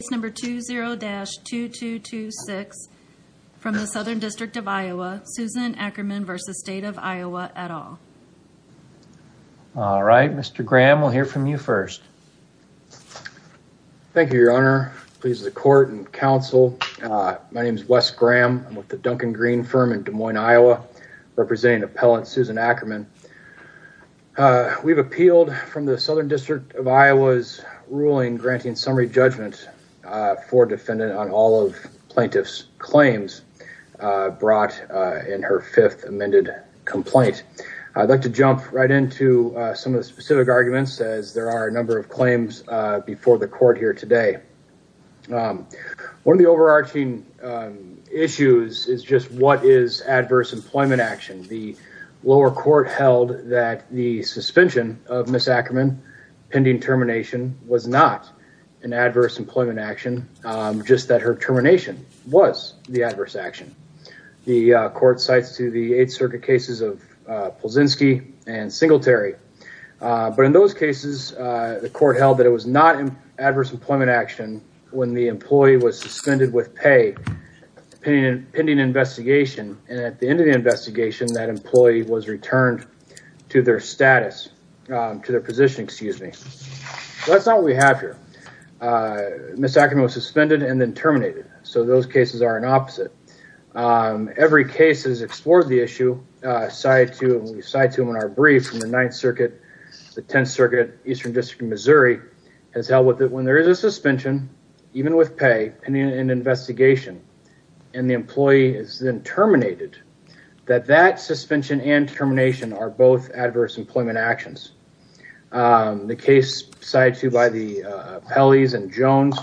case number 20-2226 from the Southern District of Iowa, Susan Ackerman v. State of Iowa et al. All right, Mr. Graham, we'll hear from you first. Thank you, Your Honor. Please, the court and counsel, my name is Wes Graham, I'm with the Duncan Green firm in Des Moines, Iowa, representing appellant Susan Ackerman. We've appealed from the Southern District of Iowa's ruling granting summary judgment for defendant on all of plaintiff's claims brought in her fifth amended complaint. I'd like to jump right into some of the specific arguments, as there are a number of claims before the court here today. One of the overarching issues is just what is adverse employment action? The lower court held that the suspension of Ms. Ackerman, pending termination, was not an adverse employment action, just that her termination was the adverse action. The court cites to the Eighth Circuit cases of Polzinski and Singletary, but in those cases the court held that it was not adverse employment action when the employee was suspended with pay, pending investigation, and at the end of the investigation that employee was returned to their status, to their position, excuse me. So that's not what we have here. Ms. Ackerman was suspended and then terminated, so those cases are an opposite. Every case has explored the issue, cited to in our brief from the Ninth Circuit, the Tenth Circuit, Eastern District of Missouri, has held that when there is a suspension, even with pay, pending an investigation, and the employee is then terminated, that that suspension and termination are both adverse employment actions. The case cited to by the Pelley's and Jones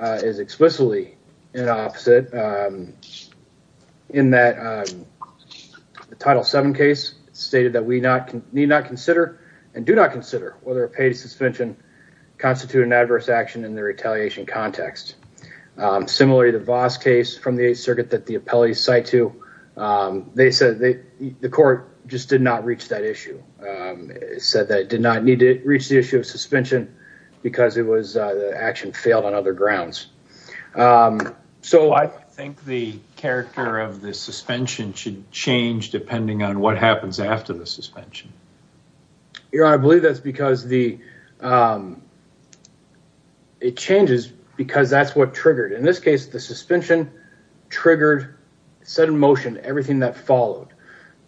is explicitly an opposite, in that the Title VII case stated that we need not consider and do not consider whether a paid suspension constitute an adverse action in the retaliation context. Similarly, the Voss case from the Eighth Circuit that the appellees cite to, they said the court just did not reach that issue, said that it did not need to reach the issue of suspension because the action failed on other grounds. So I think the character of the suspension should change depending on what happens after the suspension. Your Honor, I believe that's because the, it changes because that's what triggered. In this case, the suspension triggered, set in motion everything that followed.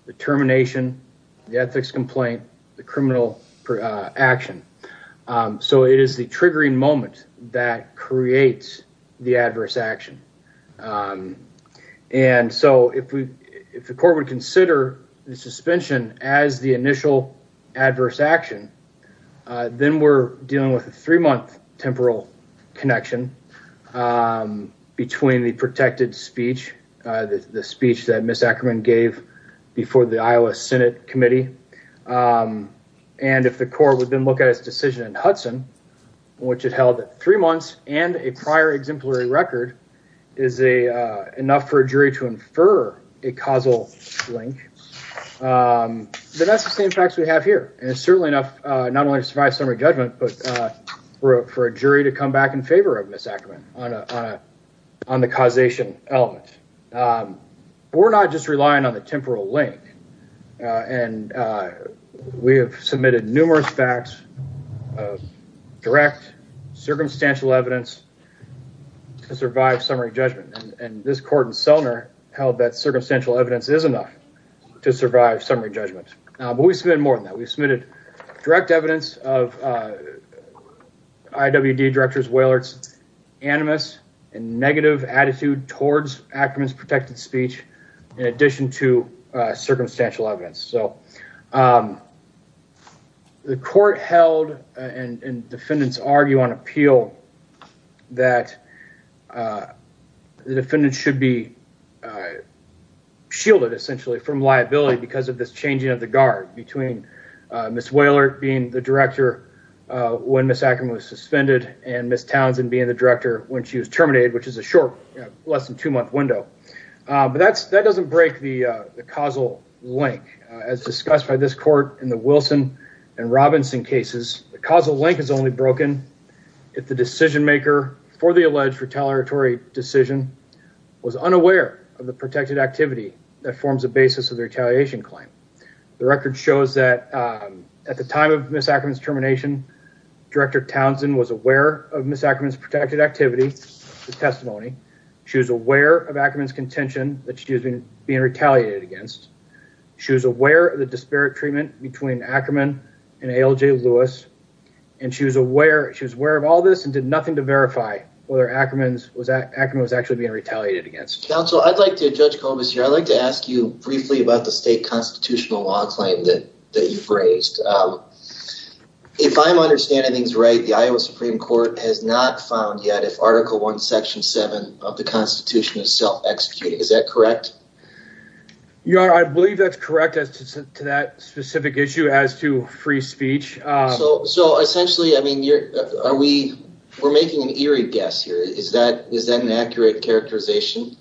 The termination, the ethics complaint, the criminal action. So it is the triggering moment that creates the adverse action. And so if the court would consider the suspension as the initial adverse action, then we're dealing with a three-month temporal connection between the protected speech, the speech that Ms. Ackerman gave before the Iowa Senate Committee, and if the court would then look at its decision in Hudson, which it held that three months and a prior exemplary record is enough for a jury to infer a causal link, then that's the same facts we have here. And it's certainly enough, not only to survive summary judgment, but for a jury to come back in favor of Ms. Ackerman on the causation element. We're not just relying on the temporal link, and we have submitted numerous facts of direct circumstantial evidence to survive summary judgment, and this court in Selner held that circumstantial evidence is enough to survive summary judgment, but we've submitted more than that. We've submitted direct evidence of IWD directors, Wailert's animus and negative attitude towards Ackerman's protected speech, in addition to circumstantial evidence. The court held, and defendants argue on appeal, that the defendants should be shielded, essentially, from liability because of this changing of the guard between Ms. Wailert being the director when Ms. Ackerman was suspended and Ms. Townsend being the director when she was terminated, which is a short, less than two-month window, but that doesn't break the causal link. As discussed by this court in the Wilson and Robinson cases, the causal link is only broken if the decision-maker for the alleged retaliatory decision was unaware of the protected activity that forms the basis of the retaliation claim. The record shows that at the time of Ms. Ackerman's termination, director Townsend was aware of Ackerman's testimony, she was aware of Ackerman's contention that she was being retaliated against, she was aware of the disparate treatment between Ackerman and A.L.J. Lewis, and she was aware of all this and did nothing to verify whether Ackerman was actually being retaliated against. Counsel, I'd like to ask you briefly about the state constitutional law claim that you've raised. If I'm understanding things right, the Iowa Supreme Court has not found yet if Article 1, Section 7 of the Constitution is self-executed. Is that correct? Your Honor, I believe that's correct as to that specific issue as to free speech. So essentially, I mean, we're making an eerie guess here. Is that an accurate characterization?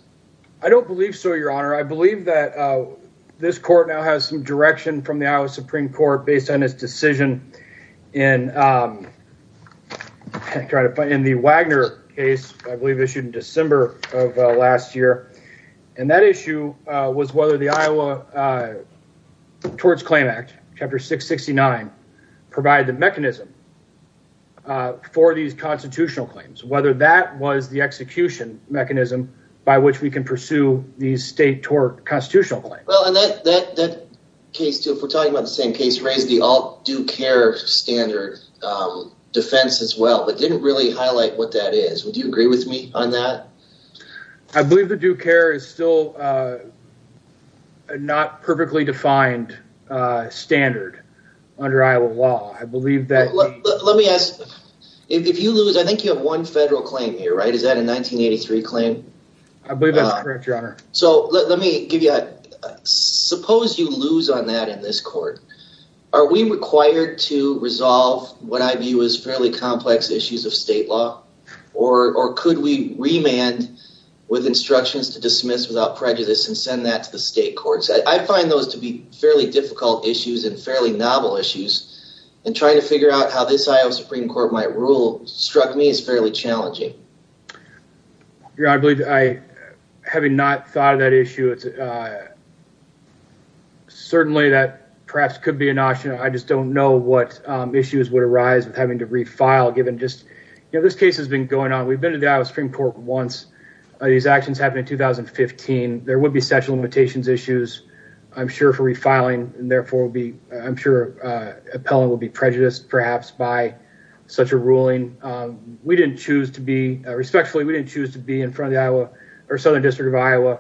I don't believe so, Your Honor. I believe that this court now has some direction from the Iowa Supreme Court based on its decision in the Wagner case, I believe issued in December of last year, and that issue was whether the Iowa Torts Claim Act, Chapter 669, provided the mechanism for these constitutional claims. Whether that was the execution mechanism by which we can pursue these state tort constitutional claims. Well, and that case too, if we're talking about the same case, raised the all due care standard defense as well, but didn't really highlight what that is. Would you agree with me on that? I believe the due care is still a not perfectly defined standard under Iowa law. I believe that... Let me ask, if you lose, I think you have one federal claim here, right? Is that a 1983 claim? I believe that's correct, Your Honor. So let me give you a... Suppose you lose on that in this court. Are we required to resolve what I view as fairly complex issues of state law, or could we remand with instructions to dismiss without prejudice and send that to the state courts? I find those to be fairly difficult issues and fairly novel issues, and trying to figure out how this Iowa Supreme Court might rule struck me as fairly challenging. Your Honor, I believe I, having not thought of that issue, it's certainly that perhaps could be an option. I just don't know what issues would arise with having to refile given just, you know, this case has been going on. We've been to the Iowa Supreme Court once. These actions happened in 2015. There would be sexual limitations issues, I'm sure, for refiling, and therefore I'm sure appellant would be prejudiced perhaps by such a ruling. We didn't choose to be, respectfully, we didn't choose to be in front of the Iowa or Southern District of Iowa.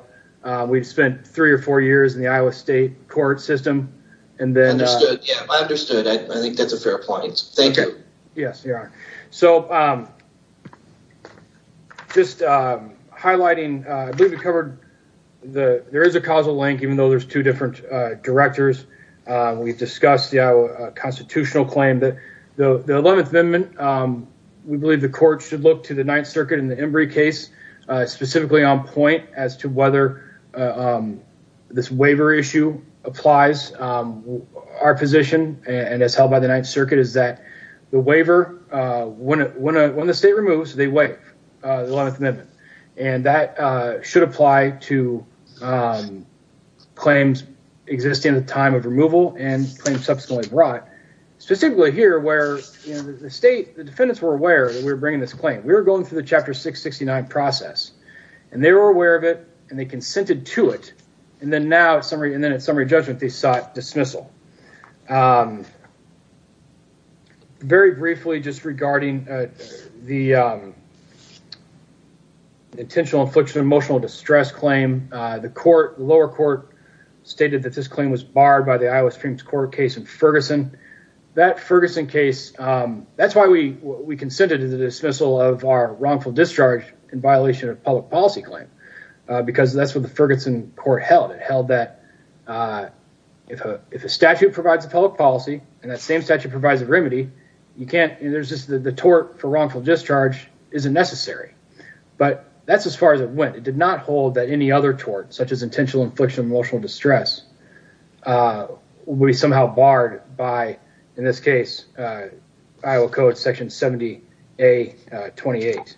We've spent three or four years in the Iowa state court system, and then... Understood. Yeah, I understood. I think that's a fair point. Thank you. Yes, Your Honor. So just highlighting, I believe we covered the... There is a causal link, even though there's two different directors. We've discussed the Iowa constitutional claim that the 11th Amendment, we believe the court should look to the Ninth Circuit in the Embry case, specifically on point as to whether this waiver issue applies. Our position, and as held by the Ninth Circuit, is that the waiver, when the state removes, they waive the 11th Amendment. And that should apply to claims existing at the time of removal and claims subsequently brought, specifically here where the state, the defendants were aware that we were bringing this claim. We were going through the Chapter 669 process, and they were aware of it, and they consented to it. And then now, in summary judgment, they sought dismissal. Very briefly, just regarding the intentional infliction of emotional distress claim, the lower court stated that this claim was barred by the Iowa Supreme Court case in Ferguson. That Ferguson case, that's why we consented to the dismissal of our wrongful discharge in violation of public policy claim, because that's what the Ferguson court held. It held that if a statute provides a public policy and that same statute provides a remedy, you can't, and there's just the tort for wrongful discharge isn't necessary. But that's as far as it went. It did not hold that any other tort, such as intentional infliction of emotional distress, would be somehow barred by, in this case, Iowa Code Section 70A28.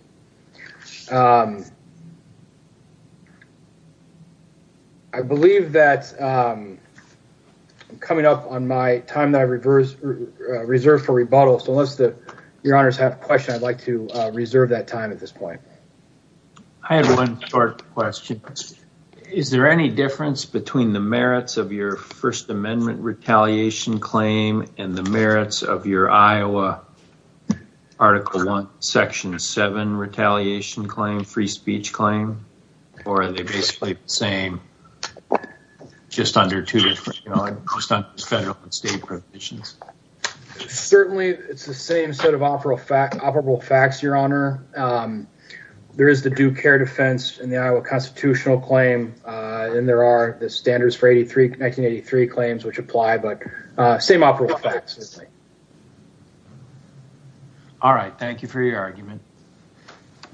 I believe that I'm coming up on my time that I reserve for rebuttal, so unless your honors have a question, I'd like to reserve that time at this point. I have one short question. Is there any difference between the merits of your First Amendment retaliation claim and the merits of your Iowa Article 1, Section 7 retaliation claim, free speech claim, or are they basically the same, just under two different, just under federal and state provisions? Certainly it's the same set of operable facts, your honor. There is the due care defense in the Iowa constitutional claim, and there are the standards for 1983 claims, which apply, but same operable facts. All right, thank you for your argument.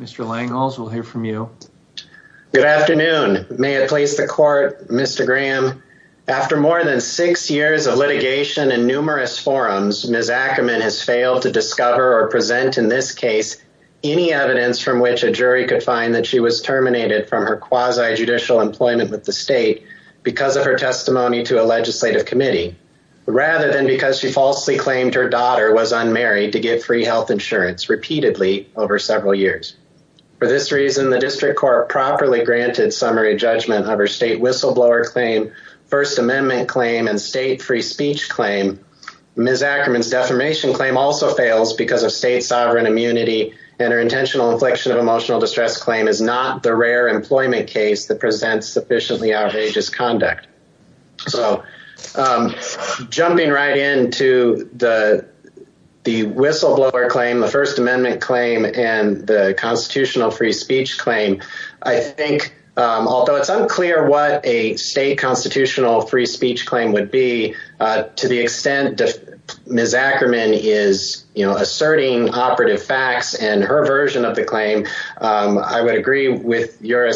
Mr. Langholz, we'll hear from you. Good afternoon. May it please the court, Mr. Graham. After more than six years of litigation and numerous forums, Ms. Ackerman has failed to discover or present in this case any evidence from which a jury could find that she was of her testimony to a legislative committee, rather than because she falsely claimed her daughter was unmarried to get free health insurance repeatedly over several years. For this reason, the district court properly granted summary judgment of her state whistleblower claim, First Amendment claim, and state free speech claim. Ms. Ackerman's defamation claim also fails because of state sovereign immunity and her intentional infliction of emotional distress claim is not the rare employment case that presents sufficiently outrageous conduct. So jumping right into the whistleblower claim, the First Amendment claim, and the constitutional free speech claim, I think, although it's unclear what a state constitutional free speech claim would be, to the extent Ms. Ackerman is, you know, asserting operative facts and her version of the claim, I would agree with your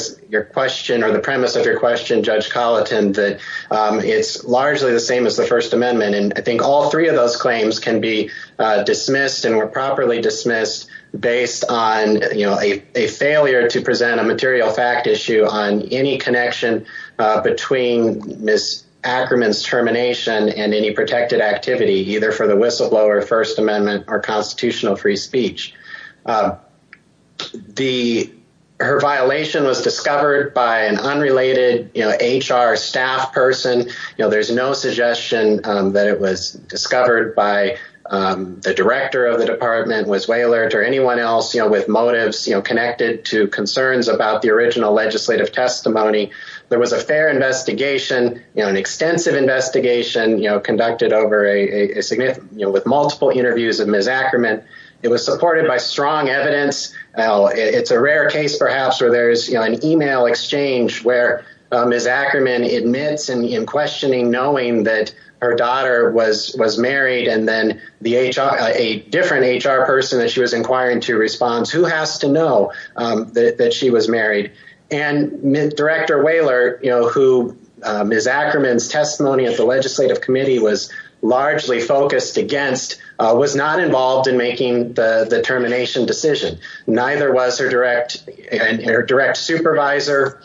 question or the premise of your question, Judge Colleton, that it's largely the same as the First Amendment, and I think all three of those claims can be dismissed and were properly dismissed based on, you know, a failure to present a material fact issue on any connection between Ms. Ackerman's termination and any protected activity, either for the whistleblower, First Amendment, or constitutional free speech. The, her violation was discovered by an unrelated, you know, HR staff person, you know, there's no suggestion that it was discovered by the director of the department, Ms. Wailert, or anyone else, you know, with motives, you know, connected to concerns about the original legislative testimony. There was a fair investigation, you know, an extensive investigation, you know, conducted over a significant, you know, with multiple interviews of Ms. Ackerman. It was supported by strong evidence. It's a rare case, perhaps, where there's, you know, an email exchange where Ms. Ackerman admits in questioning, knowing that her daughter was married, and then the HR, a different HR person that she was inquiring to responds, who has to know that she was married? And Director Wailert, you know, who Ms. Ackerman's testimony at the legislative committee was not involved in making the termination decision, neither was her direct supervisor,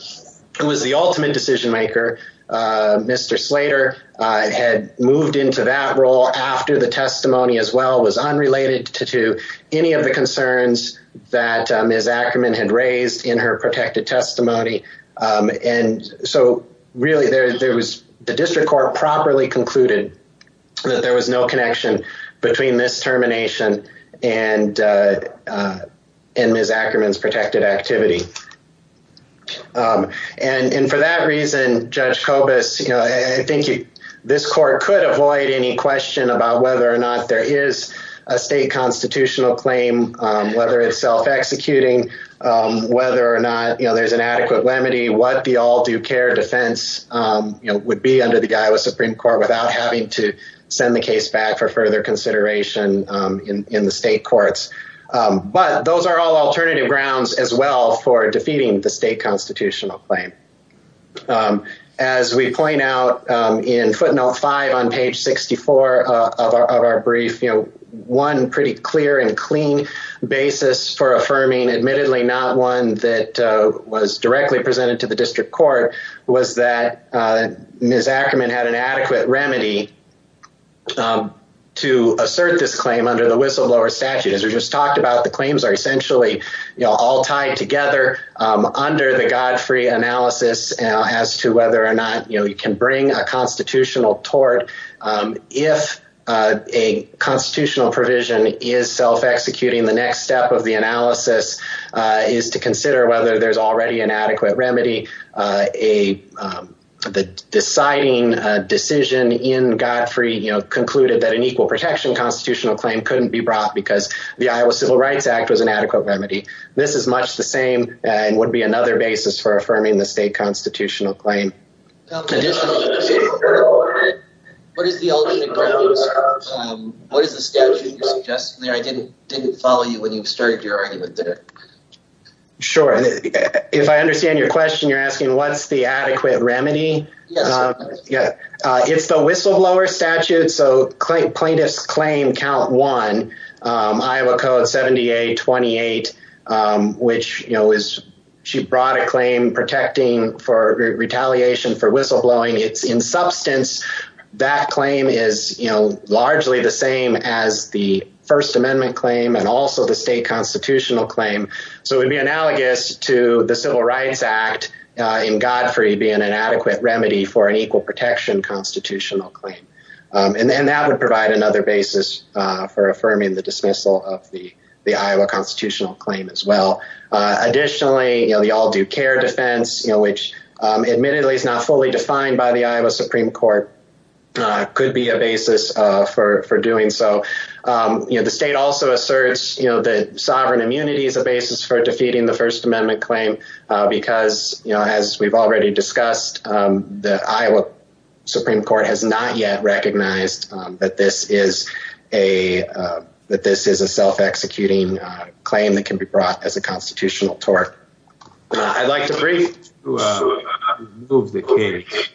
who was the ultimate decision maker, Mr. Slater, had moved into that role after the testimony as well, was unrelated to any of the concerns that Ms. Ackerman had raised in her protected testimony, and so really, there was, the district court properly concluded that there was no termination in Ms. Ackerman's protected activity, and for that reason, Judge Kobus, you know, I think this court could avoid any question about whether or not there is a state constitutional claim, whether it's self-executing, whether or not, you know, there's an adequate remedy, what the all due care defense, you know, would be under the Iowa Supreme Court without having to send the case back for further consideration in the state courts, but those are all alternative grounds as well for defeating the state constitutional claim. As we point out in footnote 5 on page 64 of our brief, you know, one pretty clear and clean basis for affirming, admittedly not one that was directly presented to the district court, was that Ms. Ackerman had an adequate remedy to assert this claim under the whistleblower statute. As we just talked about, the claims are essentially, you know, all tied together under the God-free analysis as to whether or not, you know, you can bring a constitutional tort if a constitutional provision is self-executing, the next step of the analysis is to consider whether there's already an adequate remedy, the deciding decision in God-free, you know, concluded that an equal protection constitutional claim couldn't be brought because the Iowa Civil Rights Act was an adequate remedy. This is much the same and would be another basis for affirming the state constitutional claim. Additionally, what is the statute you're suggesting there? I didn't follow you when you started your argument there. Sure. If I understand your question, you're asking what's the adequate remedy? Yes. Yeah. It's the whistleblower statute, so plaintiff's claim count one, Iowa Code 7828, which, you know, is she brought a claim protecting for retaliation for whistleblowing. It's in substance, that claim is, you know, largely the same as the First Amendment claim and also the state constitutional claim. So it would be analogous to the Civil Rights Act in God-free being an adequate remedy for an equal protection constitutional claim. And that would provide another basis for affirming the dismissal of the Iowa constitutional claim as well. Additionally, you know, the all due care defense, you know, which admittedly is not fully defined by the Iowa Supreme Court, could be a basis for doing so. The state also asserts, you know, that sovereign immunity is a basis for defeating the First Amendment claim because, you know, as we've already discussed, the Iowa Supreme Court has not yet recognized that this is a self-executing claim that can be brought as a constitutional tort. I'd like to remove the case.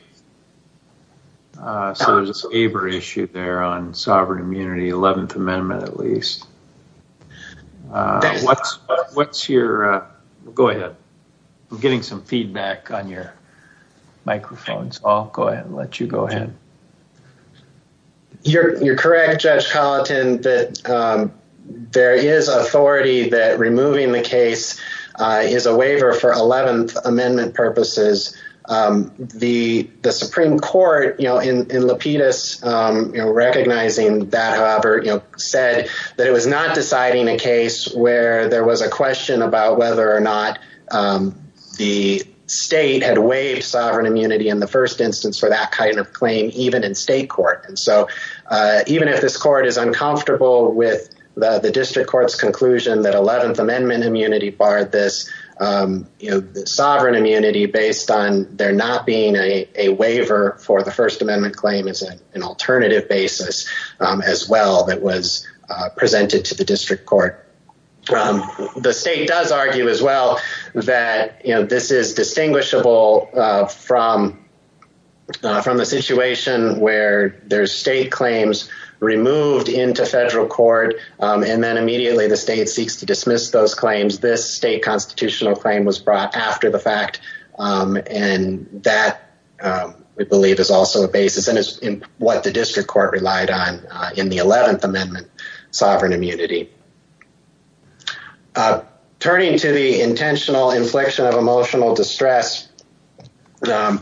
So there's a waiver issue there on sovereign immunity, 11th Amendment at least. What's what's your go ahead. I'm getting some feedback on your microphone. I'll go ahead and let you go ahead. You're correct, Judge Colleton, that there is authority that removing the case is a waiver for 11th Amendment purposes. The Supreme Court, you know, in Lapidus, you know, recognizing that, however, you know, said that it was not deciding a case where there was a question about whether or not the state had waived sovereign immunity in the first instance for that kind of claim, even in state court. And so even if this court is uncomfortable with the district court's conclusion that 11th Amendment immunity barred this sovereign immunity based on there not being a waiver for the First Amendment claim is an alternative basis as well that was presented to the district court. The state does argue as well that this is distinguishable from from the situation where there's state claims removed into federal court and then immediately the state seeks to dismiss those claims. This state constitutional claim was brought after the fact. And that we believe is also a basis and is what the district court relied on in the 11th Amendment sovereign immunity. Turning to the intentional inflection of emotional distress, even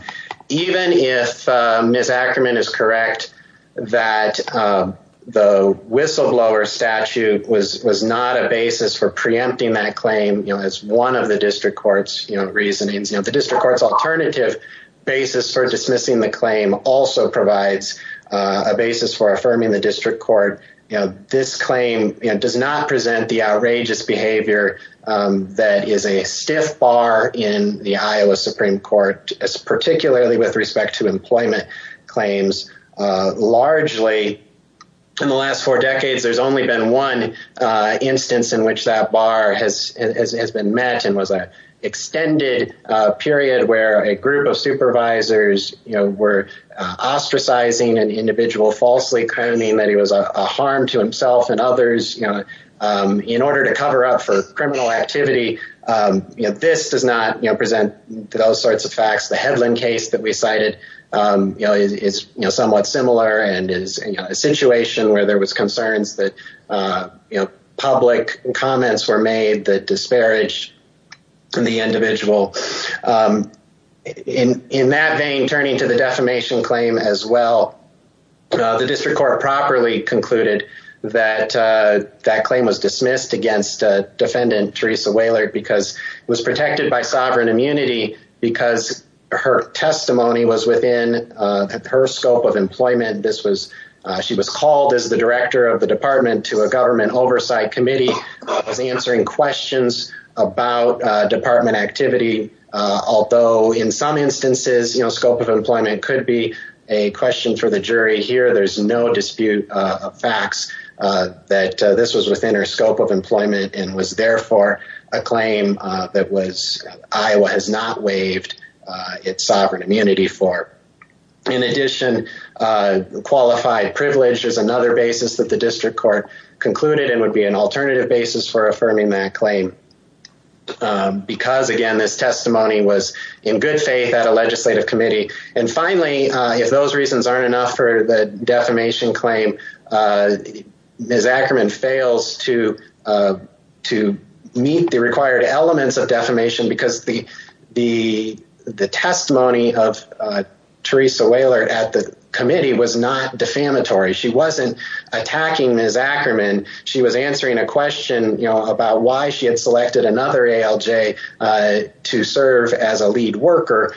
if Ms. Ackerman is correct that the whistleblower statute was was not a basis for preempting that claim as one of the district court's reasonings, the district court's alternative basis for dismissing the claim also provides a basis for affirming the district court. You know, this claim does not present the outrageous behavior that is a stiff bar in the Iowa Supreme Court, particularly with respect to employment claims largely in the last four decades. There's only been one instance in which that bar has been met and was an extended period where a group of supervisors, you know, were ostracizing an individual to harm to himself and others, you know, in order to cover up for criminal activity. You know, this does not present those sorts of facts. The Hedlund case that we cited is somewhat similar and is a situation where there was concerns that public comments were made that disparaged the individual in that vein. Turning to the defamation claim as well, the district court properly concluded that that claim was dismissed against Defendant Teresa Wailert because it was protected by sovereign immunity because her testimony was within her scope of employment. This was she was called as the director of the department to a government oversight committee, was answering questions about department activity, although in some instances, you know, scope of employment could be a question for the jury here. There's no dispute of facts that this was within her scope of employment and was therefore a claim that was Iowa has not waived its sovereign immunity for. In addition, qualified privilege is another basis that the district court concluded and would be an alternative basis for affirming that claim because, again, this testimony was in good faith at a legislative committee. And finally, if those reasons aren't enough for the defamation claim, Ms. Ackerman fails to to meet the required elements of defamation because the the the testimony of Teresa Wailert at the committee was not defamatory. She wasn't attacking Ms. Ackerman. She was answering a question about why she had selected another ALJ to serve as a lead worker,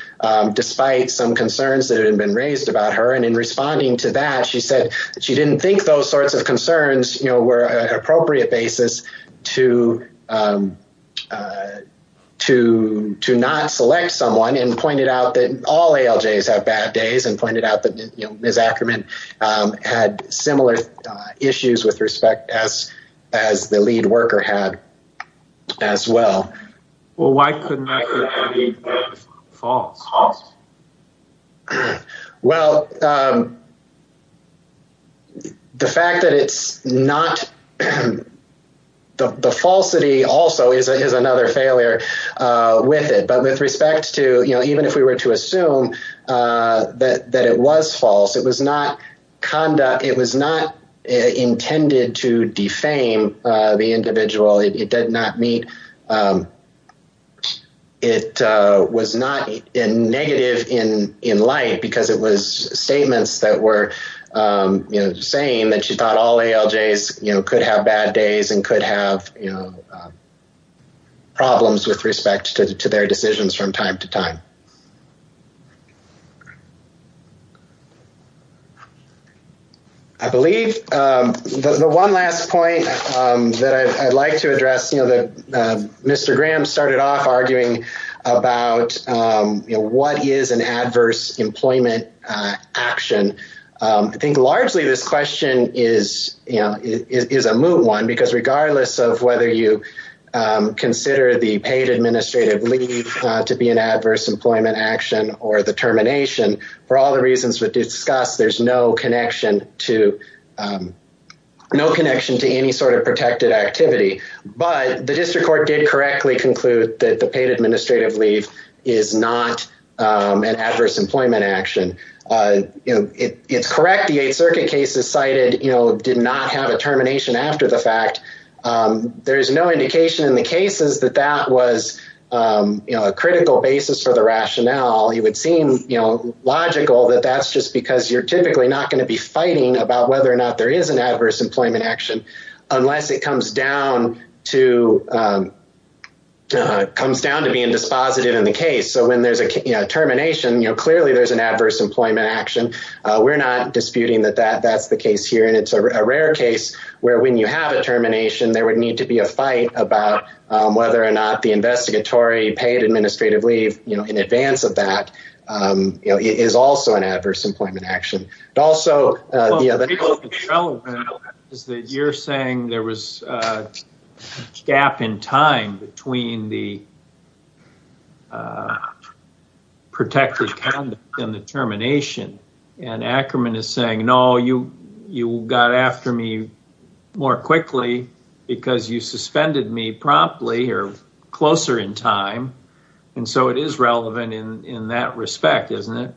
despite some concerns that had been raised about her. And in responding to that, she said she didn't think those sorts of concerns were an appropriate basis to to to not select someone and pointed out that all ALJs have bad days and pointed out that Ms. Ackerman had similar issues with respect as as the lead worker had as well. Well, why couldn't that be false? Well, the fact that it's not the falsity also is another failure with it. But with respect to, you know, even if we were to assume that that it was false, it was not conduct. It was not intended to defame the individual. It did not mean it was not a negative in in light because it was statements that were saying that she thought all ALJs could have bad days and could have problems with respect to their decisions from time to time. I believe the one last point that I'd like to address, you know, that Mr. Graham started off arguing about what is an adverse employment action. I think largely this question is, you know, is a moot one because regardless of whether you consider the paid administrative leave to be an adverse employment action or the termination, for all the reasons we've discussed, there's no connection to no connection to any sort of protected activity. But the district court did correctly conclude that the paid administrative leave is not an adverse employment action. It's correct. The Eighth Circuit case is cited, you know, did not have a termination after the fact. There is no indication in the cases that that was a critical basis for the rationale. It would seem logical that that's just because you're typically not going to be fighting about whether or not there is an adverse employment action unless it comes down to being dispositive in the case. So when there's a termination, you know, clearly there's an adverse employment action. We're not disputing that that that's the case here. And it's a rare case where when you have a termination, there would need to be a fight about whether or not the investigatory paid administrative leave, you know, in advance of that is also an adverse employment action. Also, the other thing is that you're saying there was a gap in time between the protected conduct and the termination. And Ackerman is saying, no, you got after me more quickly because you suspended me promptly or closer in time. And so it is relevant in that respect, isn't it?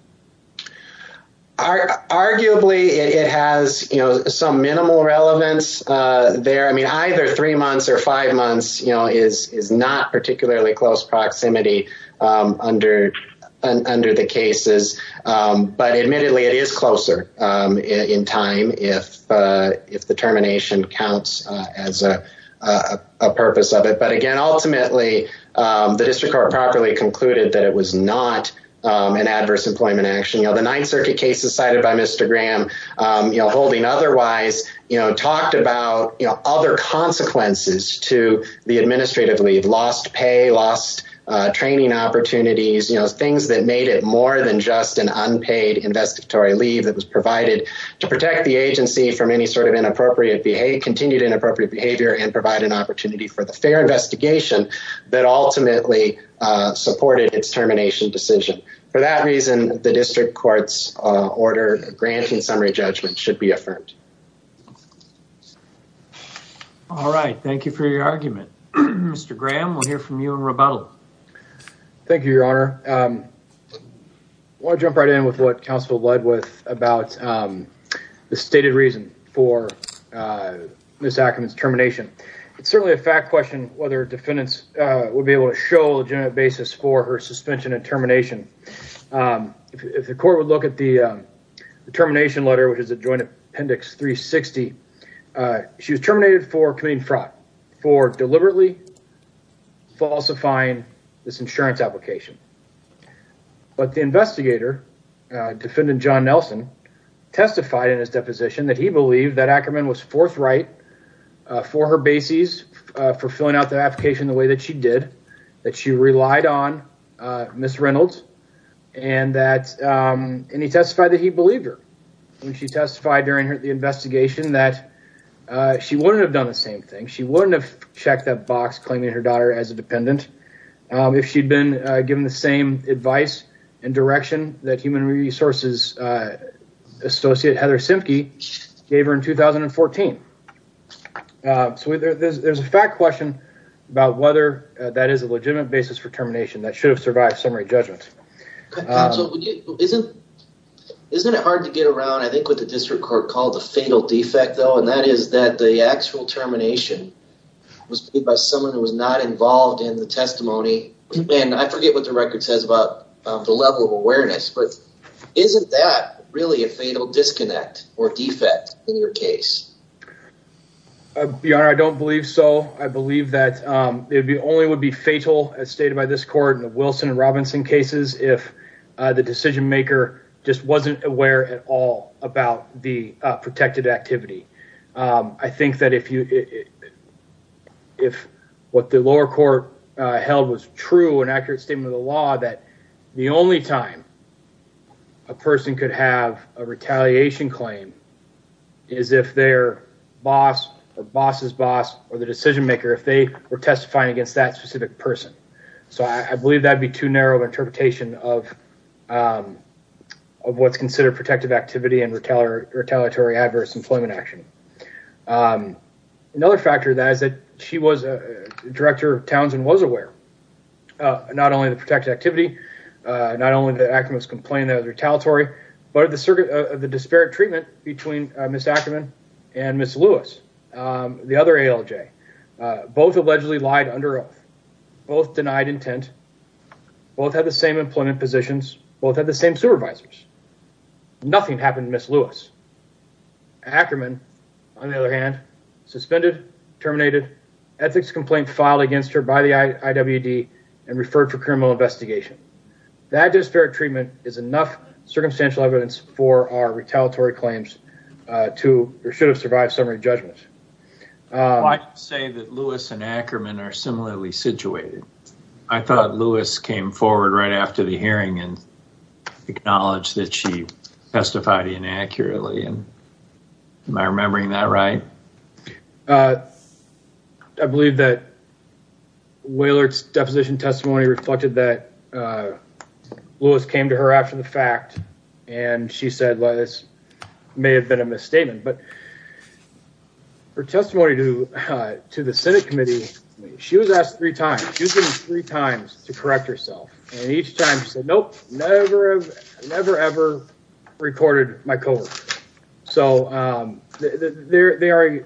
Arguably, it has, you know, some minimal relevance there. I mean, either three months or five months, you know, is is not particularly close proximity under under the cases. But admittedly, it is closer in time if if the termination counts as a purpose of it. But again, ultimately, the district court properly concluded that it was not an adverse employment action. The Ninth Circuit cases cited by Mr. Graham, you know, holding otherwise, you know, talked about other consequences to the training opportunities, you know, things that made it more than just an unpaid investigatory leave that was provided to protect the agency from any sort of inappropriate behavior, continued inappropriate behavior and provide an opportunity for the fair investigation that ultimately supported its termination decision. For that reason, the district court's order granting summary judgment should be affirmed. All right, thank you for your argument, Mr. Graham, we'll hear from you in rebuttal. Thank you, Your Honor. I want to jump right in with what counsel led with about the stated reason for Ms. Ackerman's termination. It's certainly a fact question whether defendants would be able to show a legitimate basis for her suspension and termination. If the court would look at the termination letter, which is a joint appendix 360, she was terminated for committing fraud, for deliberately falsifying this insurance application. But the investigator, defendant John Nelson, testified in his deposition that he believed that Ackerman was forthright for her bases, for filling out the application the way that she did, that she relied on Ms. Reynolds. And he testified that he believed her when she testified during the hearing that she wouldn't have done the same thing. She wouldn't have checked that box claiming her daughter as a dependent if she'd been given the same advice and direction that human resources associate Heather Simpkey gave her in 2014. So there's a fact question about whether that is a legitimate basis for termination that should have survived summary judgment. Isn't it hard to get around, I think, what the district court called the fatal defect, though, and that is that the actual termination was by someone who was not involved in the testimony. And I forget what the record says about the level of awareness, but isn't that really a fatal disconnect or defect in your case? Your Honor, I don't believe so. I believe that it only would be fatal, as stated by this court in the Wilson and Robinson cases, if the decision maker just wasn't aware at all about the protected activity. I think that if what the lower court held was true and accurate statement of the law, that the only time a person could have a retaliation claim is if their boss or boss's boss or the decision maker, if they were testifying against that specific person. So I believe that would be too narrow an interpretation of what's considered protective activity and retaliatory adverse employment action. Another factor that is that she was a director of Townsend and was aware, not only the protected activity, not only did Ackerman complain that it was retaliatory, but the circuit of the disparate treatment between Ms. Ackerman and Ms. Lewis, the other ALJ, both allegedly lied under oath, both denied intent, both had the same employment positions, both had the same supervisors. Nothing happened to Ms. Ackerman, on the other hand, suspended, terminated, ethics complaint filed against her by the IWD and referred for criminal investigation. That disparate treatment is enough circumstantial evidence for our retaliatory claims to, or should have survived summary judgment. I'd say that Lewis and Ackerman are similarly situated. I thought Lewis came forward right after the hearing and acknowledged that she testified inaccurately. Am I remembering that right? I believe that Wailert's deposition testimony reflected that Lewis came to her after the fact and she said, well, this may have been a misstatement, but her testimony to the Senate committee, she was asked three times, she was given three times to correct herself. And each time she said, nope, never, never, ever recorded my code. So, they are, I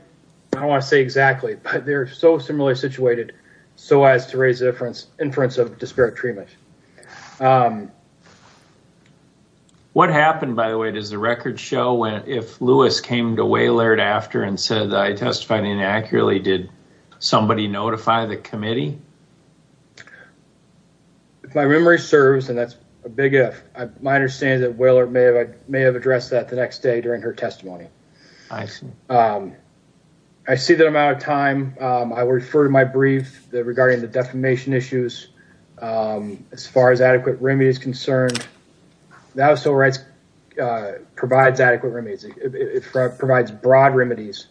don't want to say exactly, but they're so similarly situated so as to raise the inference of disparate treatment. What happened, by the way, does the record show when if Lewis came to Wailert after and said that I testified inaccurately, did somebody notify the committee? If my memory serves, and that's a big if, my understanding is that Wailert may have addressed that the next day during her testimony. I see that I'm out of time. I will refer to my brief regarding the defamation issues. As far as adequate remedy is concerned, the House of Civil Rights provides adequate remedies. It provides broad remedies,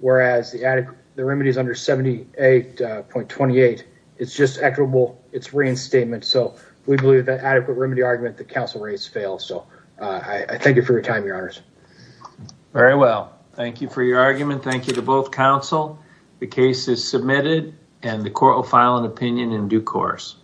whereas the remedies under 78.28, it's just equitable. It's reinstatement. So, we believe that adequate remedy argument that counsel raised fails. So, I thank you for your time, your honors. Very well. Thank you for your argument. Thank you to both counsel. The case is submitted and the court will file an opinion in due course.